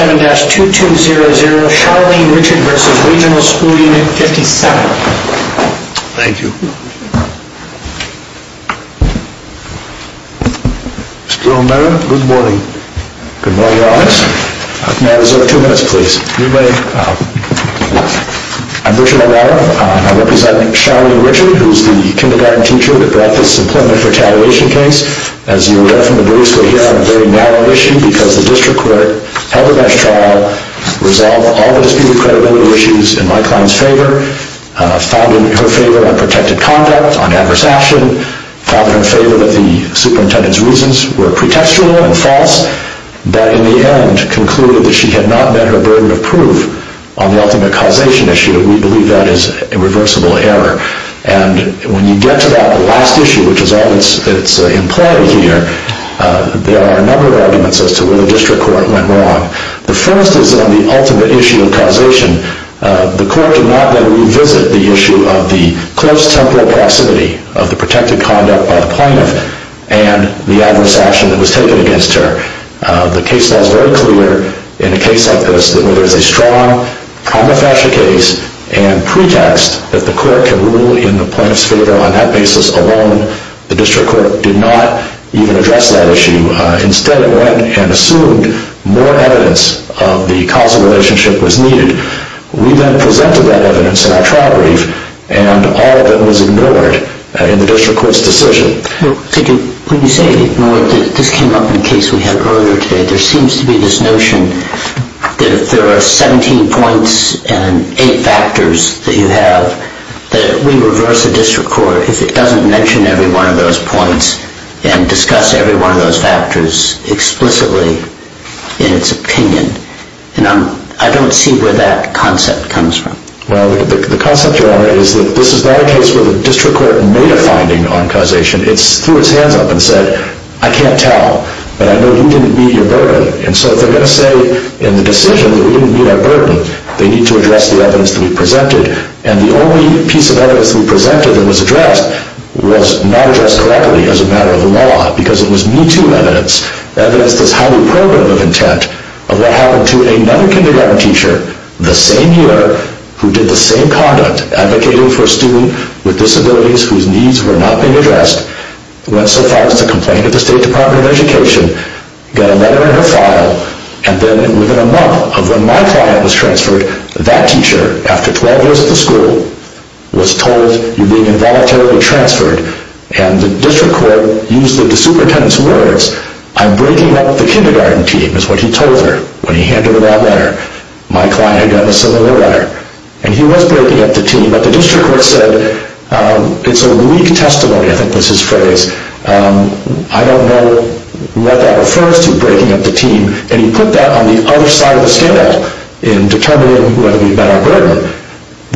7-2200 Charlene Richard v. Regional School Unit 57 Thank you. Mr. O'Mara, good morning. Good morning, Your Honor. May I reserve two minutes, please? You may. I'm Richard O'Mara. I represent Charlene Richard, who's the kindergarten teacher that brought this employment retaliation case. As you will know from the briefs, we're here on a very narrow issue because the district court held the best trial, resolved all the disputed credibility issues in my client's favor, found in her favor unprotected conduct on adverse action, found in her favor that the superintendent's reasons were pretextual and false, but in the end concluded that she had not met her burden of proof on the ultimate causation issue, and we believe that is a reversible error. And when you get to that last issue, which is all that's in play here, there are a number of arguments as to where the district court went wrong. The first is on the ultimate issue of causation. The court did not, then, revisit the issue of the close temporal proximity of the protected conduct by the plaintiff and the adverse action that was taken against her. The case law is very clear in a case like this, where there's a strong prima facie case and pretext that the court can rule in the plaintiff's favor. On that basis alone, the district court did not even address that issue. Instead, it went and assumed more evidence of the causal relationship was needed. We then presented that evidence in our trial brief, and all of it was ignored in the district court's decision. When you say ignored, this came up in a case we had earlier today. There seems to be this notion that if there are 17 points and 8 factors that you have, that we reverse the district court if it doesn't mention every one of those points and discuss every one of those factors explicitly in its opinion. And I don't see where that concept comes from. Well, the concept, Your Honor, is that this is not a case where the district court made a finding on causation. It threw its hands up and said, I can't tell, but I know you didn't meet your burden. And so if they're going to say in the decision that we didn't meet our burden, they need to address the evidence that we presented. And the only piece of evidence we presented that was addressed was not addressed correctly as a matter of law, because it was Me Too evidence, evidence that's highly probative of intent, of what happened to another kindergarten teacher the same year who did the same conduct, advocating for a student with disabilities whose needs were not being addressed, went so far as to complain to the State Department of Education, got a letter in her file, and then within a month of when my client was transferred, that teacher, after 12 years at the school, was told, you're being involuntarily transferred. And the district court used the superintendent's words, I'm breaking up the kindergarten team, is what he told her when he handed her that letter. My client had gotten a similar letter. And he was breaking up the team, but the district court said, it's a weak testimony, I think was his phrase, I don't know what that refers to, breaking up the team, and he put that on the other side of the scale in determining whether we met our burden.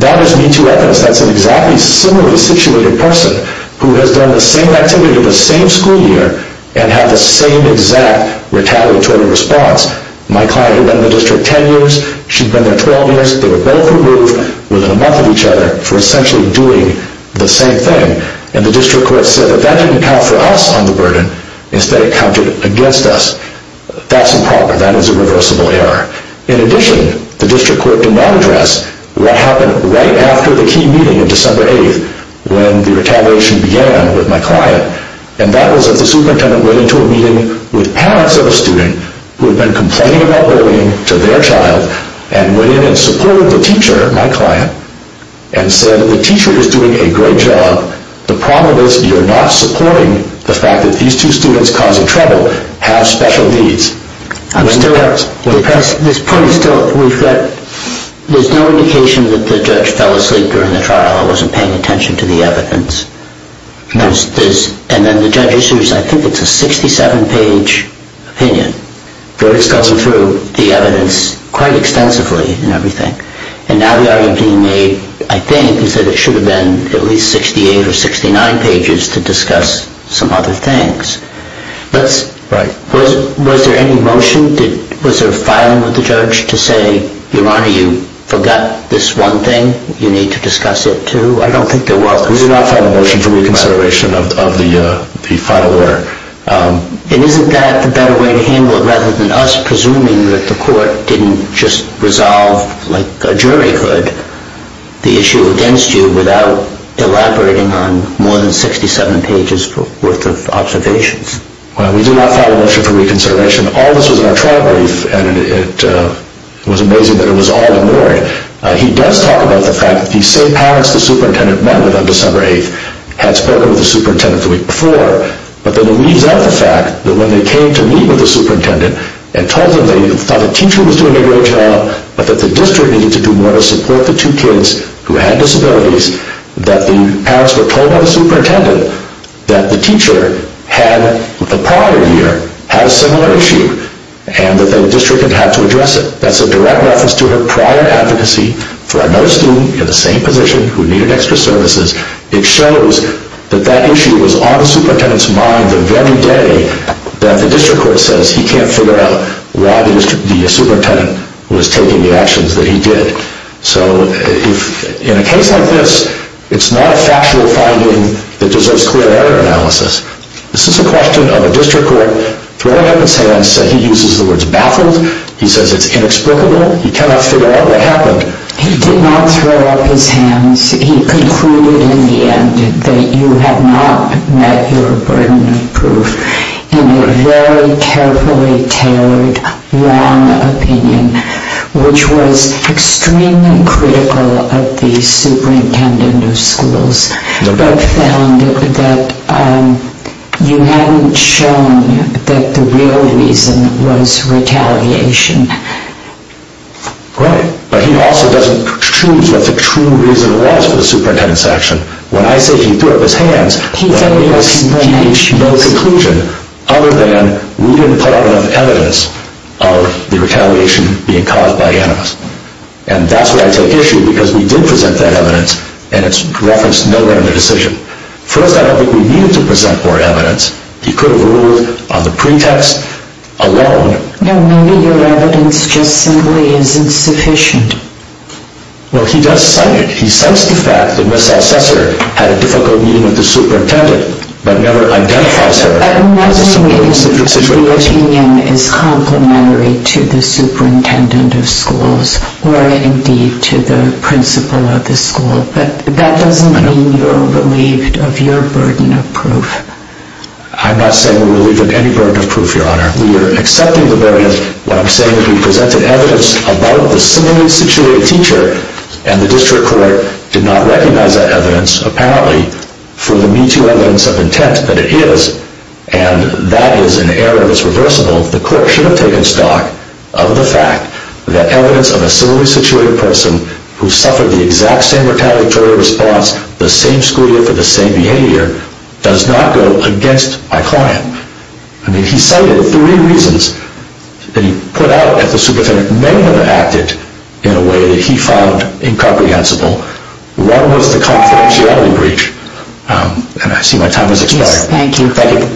That is Me Too evidence. That's an exactly similarly situated person who has done the same activity the same school year and had the same exact retaliatory response. My client had been in the district 10 years, she'd been there 12 years, they were both removed within a month of each other for essentially doing the same thing. And the district court said that that didn't account for us on the burden, instead it counted against us. That's improper. That is a reversible error. In addition, the district court did not address what happened right after the key meeting on December 8th when the retaliation began with my client. And that was that the superintendent went into a meeting with parents of a student who had been complaining about bullying to their child, and went in and supported the teacher, my client, and said, the teacher is doing a great job. The problem is you're not supporting the fact that these two students causing trouble have special needs. I'm still, this point is still, there's no indication that the judge fell asleep during the trial or wasn't paying attention to the evidence. And then the judge assumes, I think it's a 67-page opinion, but it's going through the evidence quite extensively and everything. And now the argument being made, I think, is that it should have been at least 68 or 69 pages to discuss some other things. Was there any motion? Was there filing with the judge to say, Your Honor, you forgot this one thing, you need to discuss it too? I don't think there was. We did not file a motion for reconsideration of the final order. And isn't that a better way to handle it rather than us presuming that the court didn't just resolve like a jury could the issue against you without elaborating on more than 67 pages worth of observations? Well, we did not file a motion for reconsideration. All this was in our trial brief, and it was amazing that it was all ignored. He does talk about the fact that the same parents the superintendent went with on December 8th had spoken with the superintendent the week before. But then he leaves out the fact that when they came to meet with the superintendent and told them they thought the teacher was doing a great job, but that the district needed to do more to support the two kids who had disabilities, that the parents were told by the superintendent that the teacher had, the prior year, had a similar issue and that the district had had to address it. That's a direct reference to her prior advocacy for another student in the same position who needed extra services. It shows that that issue was on the superintendent's mind the very day that the district court says he can't figure out why the superintendent was taking the actions that he did. So in a case like this, it's not a factual finding that deserves clear error analysis. This is a question of a district court throwing up its hands saying he uses the words baffled. He says it's inexplicable. He cannot figure out what happened. He did not throw up his hands. He concluded in the end that you had not met your burden of proof in a very carefully tailored, long opinion which was extremely critical of the superintendent of schools but found that you hadn't shown that the real reason was retaliation. Right. But he also doesn't choose what the true reason was for the superintendent's action. When I say he threw up his hands, he said there was no conclusion other than we didn't put out enough evidence of the retaliation being caused by animals. And that's where I take issue because we did present that evidence and it's referenced nowhere in the decision. First, I don't think we needed to present more evidence. He could have ruled on the pretext alone. No, maybe your evidence just simply isn't sufficient. Well, he does cite it. He cites the fact that Ms. Alcester had a difficult meeting with the superintendent but never identifies her. I'm not saying the opinion is complementary to the superintendent of schools or indeed to the principal of the school, but that doesn't mean you're relieved of your burden of proof. I'm not saying we're relieved of any burden of proof, Your Honor. We are accepting the burden. What I'm saying is we presented evidence about the similarly situated teacher and the district court did not recognize that evidence, apparently, for the meeting evidence of intent that it is, and that is an error that's reversible. The court should have taken stock of the fact that evidence of a similarly situated person who suffered the exact same retaliatory response the same school year for the same behavior does not go against my client. I mean, he cited three reasons that he put out that the superintendent may have acted in a way that he found incomprehensible. One was the confidentiality breach, and I see my time has expired. Yes, thank you. Thank you.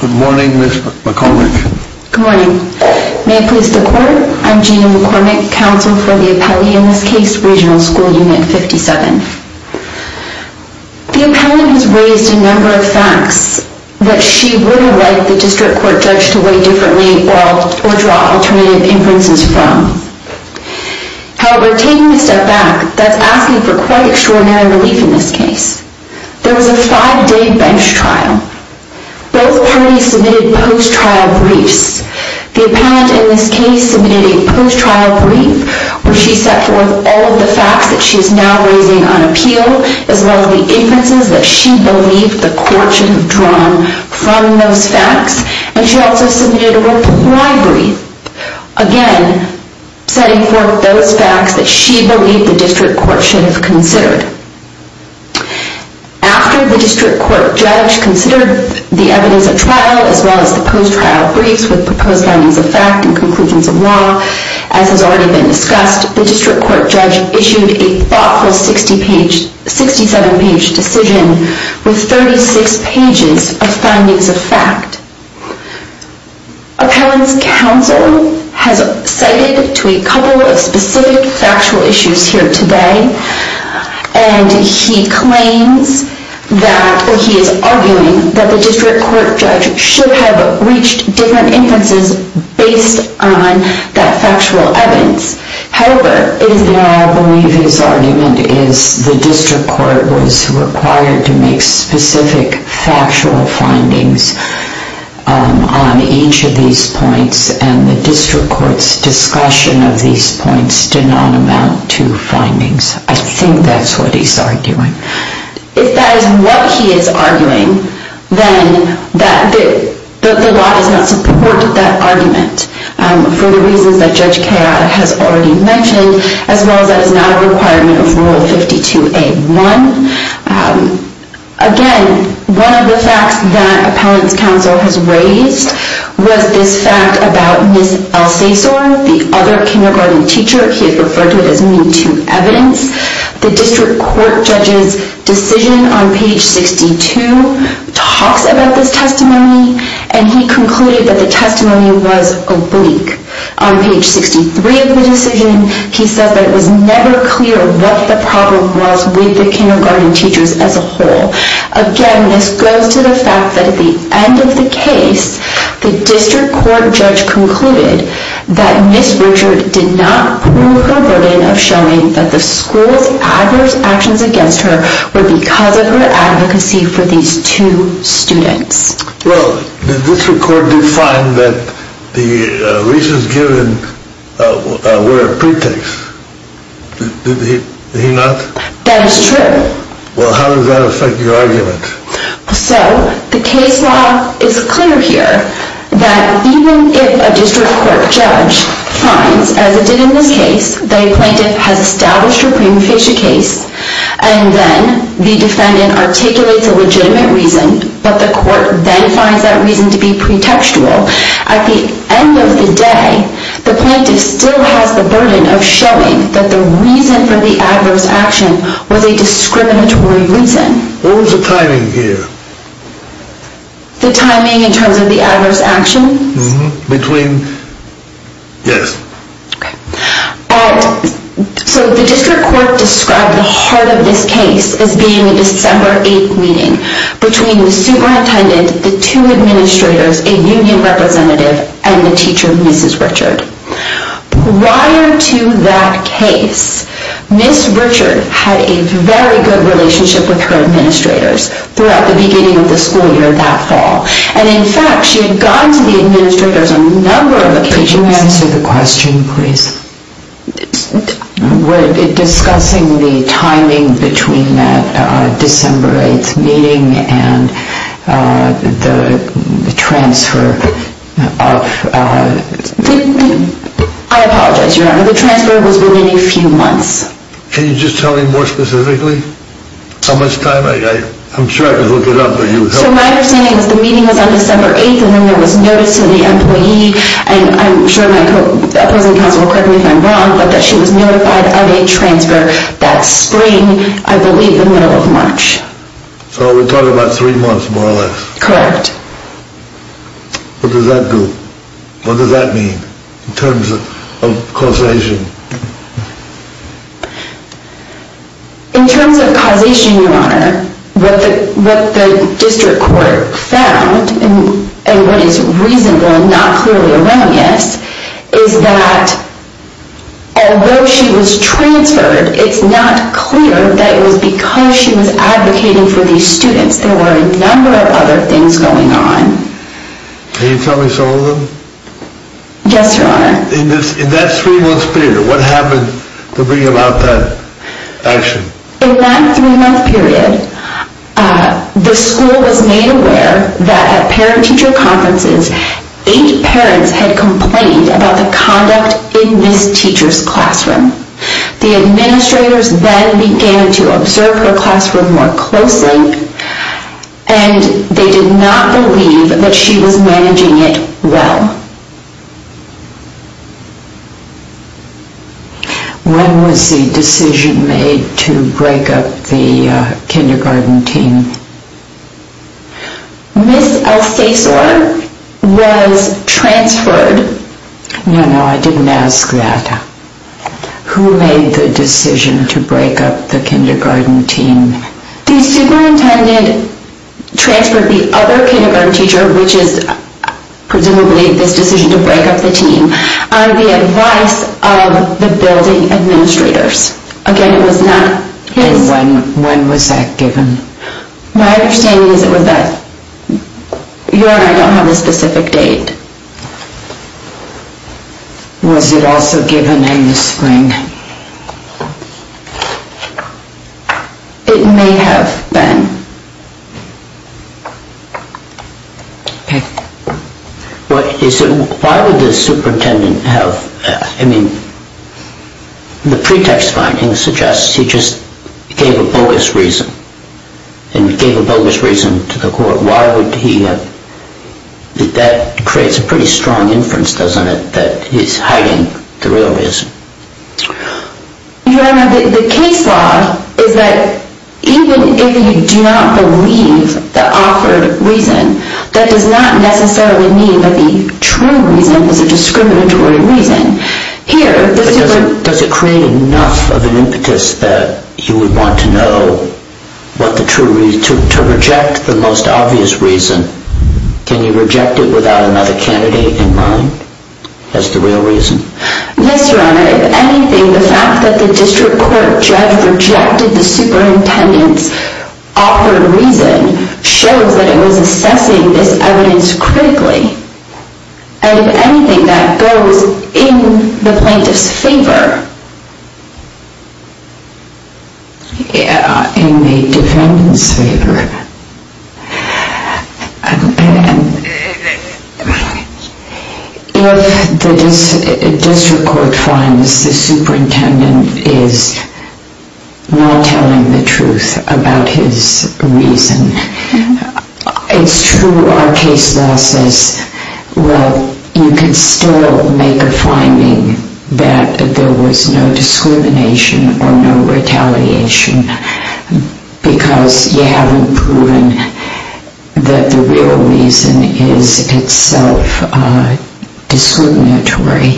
Good morning, Ms. McCormick. Good morning. May it please the Court, I'm Gina McCormick, counsel for the appellee in this case, Regional School Unit 57. The appellant has raised a number of facts that she would have liked the district court judge to weigh differently or draw alternative inferences from. However, taking a step back, that's asking for quite extraordinary relief in this case. There was a five-day bench trial. Both parties submitted post-trial briefs. The appellant in this case submitted a post-trial brief where she set forth all of the facts that she is now raising on appeal, as well as the inferences that she believed the court should have drawn from those facts. And she also submitted a reply brief, again, setting forth those facts that she believed the district court should have considered. After the district court judge considered the evidence at trial, as well as the post-trial briefs with proposed findings of fact and conclusions of law, as has already been discussed, the district court judge issued a thoughtful 67-page decision with 36 pages of findings of fact. Appellant's counsel has cited to a couple of specific factual issues here today. And he claims that he is arguing that the district court judge should have reached different inferences based on that factual evidence. However, it is now believed his argument is the district court was required to make specific factual findings on each of these points, and the district court's discussion of these points did not amount to findings. I think that's what he's arguing. If that is what he is arguing, then the law does not support that argument for the reasons that Judge Kayotte has already mentioned, as well as that it is not a requirement of Rule 52A1. Again, one of the facts that Appellant's counsel has raised was this fact about Ms. Alcesor, the other kindergarten teacher. He has referred to it as Me Too evidence. The district court judge's decision on page 62 talks about this testimony, and he concluded that the testimony was oblique. On page 63 of the decision, he says that it was never clear what the problem was with the kindergarten teachers as a whole. Again, this goes to the fact that at the end of the case, the district court judge concluded that Ms. Richard did not prove her burden of showing that the school's adverse actions against her were because of her advocacy for these two students. Well, the district court did find that the reasons given were a pretext. Did he not? That is true. Well, how does that affect your argument? So, the case law is clear here that even if a district court judge finds, as it did in this case, that a plaintiff has established a preemptation case, and then the defendant articulates a legitimate reason, but the court then finds that reason to be pretextual, at the end of the day, the plaintiff still has the burden of showing that the reason for the adverse action was a discriminatory reason. What was the timing here? The timing in terms of the adverse actions? Between, yes. So, the district court described the heart of this case as being a December 8th meeting between the superintendent, the two administrators, a union representative, and the teacher, Mrs. Richard. Prior to that case, Ms. Richard had a very good relationship with her administrators throughout the beginning of the school year that fall. And, in fact, she had gone to the administrators on a number of occasions. Could you answer the question, please? Discussing the timing between that December 8th meeting and the transfer of... I apologize, Your Honor, the transfer was within a few months. Can you just tell me more specifically how much time? I'm trying to look it up. So, my understanding is the meeting was on December 8th, and then there was notice to the employee, and I'm sure my opposing counsel will correct me if I'm wrong, but that she was notified of a transfer that spring, I believe the middle of March. So, we're talking about three months, more or less. Correct. What does that do? What does that mean in terms of causation? In terms of causation, Your Honor, what the district court found, and what is reasonable and not clearly around this, is that although she was transferred, it's not clear that it was because she was advocating for these students. There were a number of other things going on. Can you tell me some of them? Yes, Your Honor. In that three-month period, what happened to bring about that action? In that three-month period, the school was made aware that at parent-teacher conferences, eight parents had complained about the conduct in this teacher's classroom. The administrators then began to observe her classroom more closely, and they did not believe that she was managing it well. When was the decision made to break up the kindergarten team? Ms. Alcesor was transferred. No, no, I didn't ask that. Who made the decision to break up the kindergarten team? The superintendent transferred the other kindergarten teacher, which is presumably this decision to break up the team, on the advice of the building administrators. Again, it was not his. And when was that given? My understanding is that Your Honor, I don't have a specific date. Was it also given in the spring? It may have been. Why would the superintendent have... I mean, the pretext finding suggests he just gave a bogus reason, and gave a bogus reason to the court. Why would he have... That creates a pretty strong inference, doesn't it, that he's hiding the real reason. Your Honor, the case law is that even if you do not believe the offered reason, that does not necessarily mean that the true reason is a discriminatory reason. Does it create enough of an impetus that you would want to know what the true reason... to reject the most obvious reason? Can you reject it without another candidate in mind as the real reason? Yes, Your Honor. If anything, the fact that the district court judge rejected the superintendent's offered reason shows that it was assessing this evidence critically. And if anything, that goes in the plaintiff's favor. Yeah, in the defendant's favor. If the district court finds the superintendent is not telling the truth about his reason, it's true our case law says, well, you can still make a finding that there was no discrimination or no retaliation, because you haven't proven that the real reason is itself discriminatory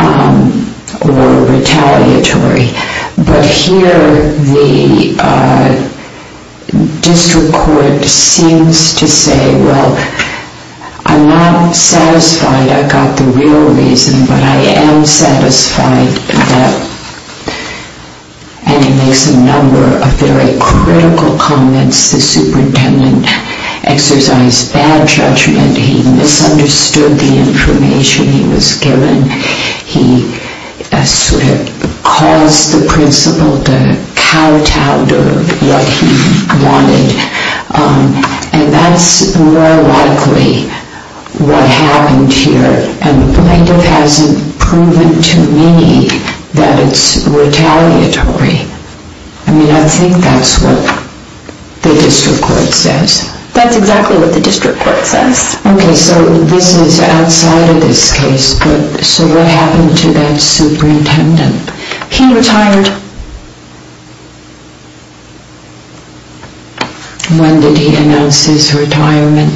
or retaliatory. But here the district court seems to say, well, I'm not satisfied I got the real reason, but I am satisfied that... And he makes a number of very critical comments. The superintendent exercised bad judgment. He misunderstood the information he was given. He caused the principal to kowtow to what he wanted. And that's more likely what happened here. And the plaintiff hasn't proven to me that it's retaliatory. I mean, I think that's what the district court says. That's exactly what the district court says. Okay, so this is outside of this case. So what happened to that superintendent? He retired. When did he announce his retirement?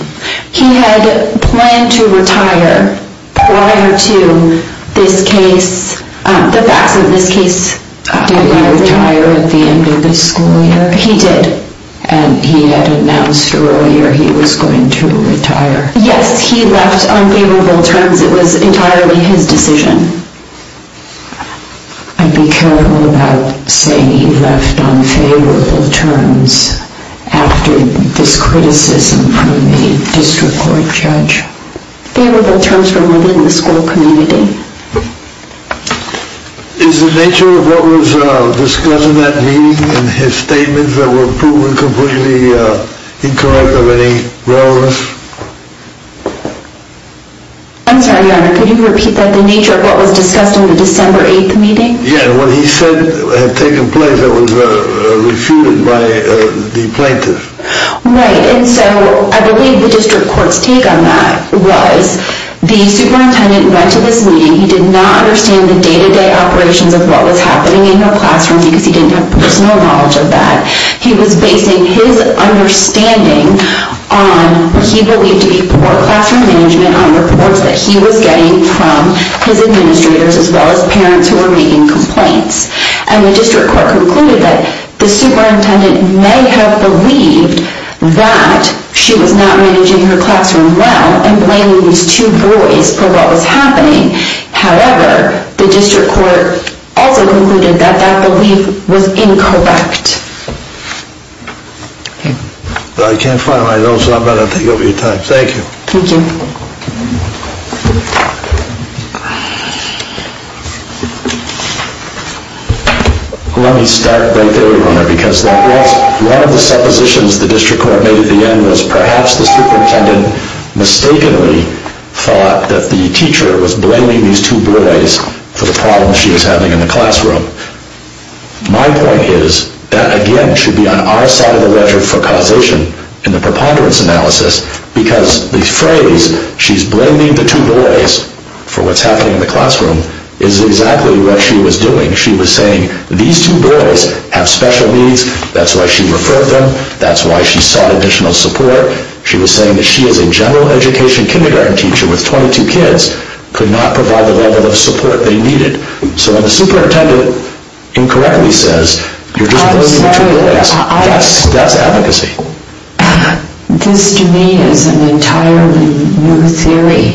He had planned to retire prior to this case. The facts of this case... Did he retire at the end of the school year? He did. And he had announced earlier he was going to retire. Yes, he left on favorable terms. It was entirely his decision. I'd be careful about saying he left on favorable terms after this criticism from the district court judge. Favorable terms from within the school community. Is the nature of what was discussed in that meeting and his statements that were proven completely incorrect of any relevance? I'm sorry, Your Honor. Could you repeat that? The nature of what was discussed in the December 8th meeting? Yes, what he said had taken place that was refuted by the plaintiff. Right, and so I believe the district court's take on that was the superintendent went to this meeting. He did not understand the day-to-day operations of what was happening in the classroom because he didn't have personal knowledge of that. He was basing his understanding on what he believed to be poor classroom management on reports that he was getting from his administrators as well as parents who were making complaints. And the district court concluded that the superintendent may have believed that she was not managing her classroom well and blaming these two boys for what was happening. However, the district court also concluded that that belief was incorrect. I can't find my notes, so I'm going to take up your time. Thank you. Thank you. Let me start right there, Your Honor, because one of the suppositions the district court made at the end was perhaps the superintendent mistakenly thought that the teacher was blaming these two boys for the problems she was having in the classroom. My point is that, again, should be on our side of the ledger for causation in the preponderance analysis because the phrase, she's blaming the two boys for what's happening in the classroom, is exactly what she was doing. She was saying these two boys have special needs. That's why she referred them. That's why she sought additional support. She was saying that she as a general education kindergarten teacher with 22 kids could not provide the level of support they needed. So when the superintendent incorrectly says, you're just blaming the two boys, that's advocacy. This, to me, is an entirely new theory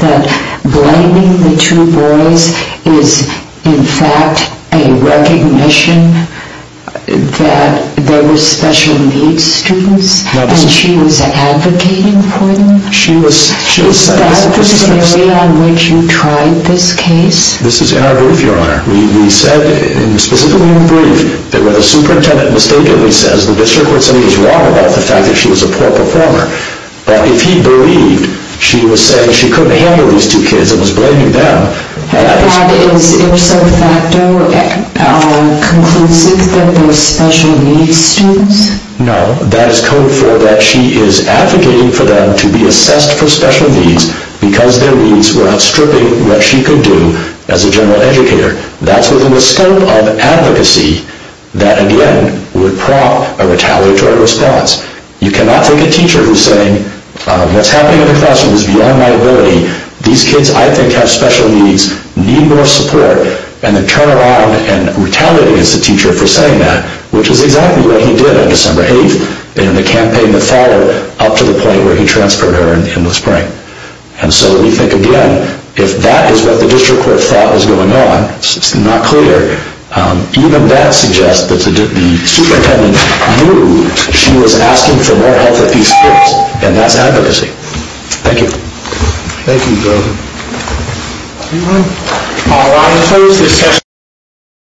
that blaming the two boys is, in fact, a recognition that they were special needs students and she was advocating for them. That was the area on which you tried this case? This is in our brief, Your Honor. We said specifically in the brief that when the superintendent mistakenly says the district court said he was wrong about the fact that she was a poor performer, but if he believed she was saying she couldn't handle these two kids and was blaming them, that is code for that she is advocating for them to be assessed for special needs because their needs were outstripping what she could do as a general educator. That's within the scope of advocacy that, again, would prompt a retaliatory response. You cannot take a teacher who's saying what's happening in the classroom is beyond my ability. These kids, I think, have special needs, need more support, and then turn around and retaliate against the teacher for saying that, which is exactly what he did on December 8th in the campaign that followed up to the point where he transferred her in the spring. And so we think, again, if that is what the district court thought was going on, it's not clear. Even that suggests that the superintendent knew she was asking for more help with these kids, and that's advocacy. Thank you. Thank you, Joe. Anyone? All right. We'll close this session.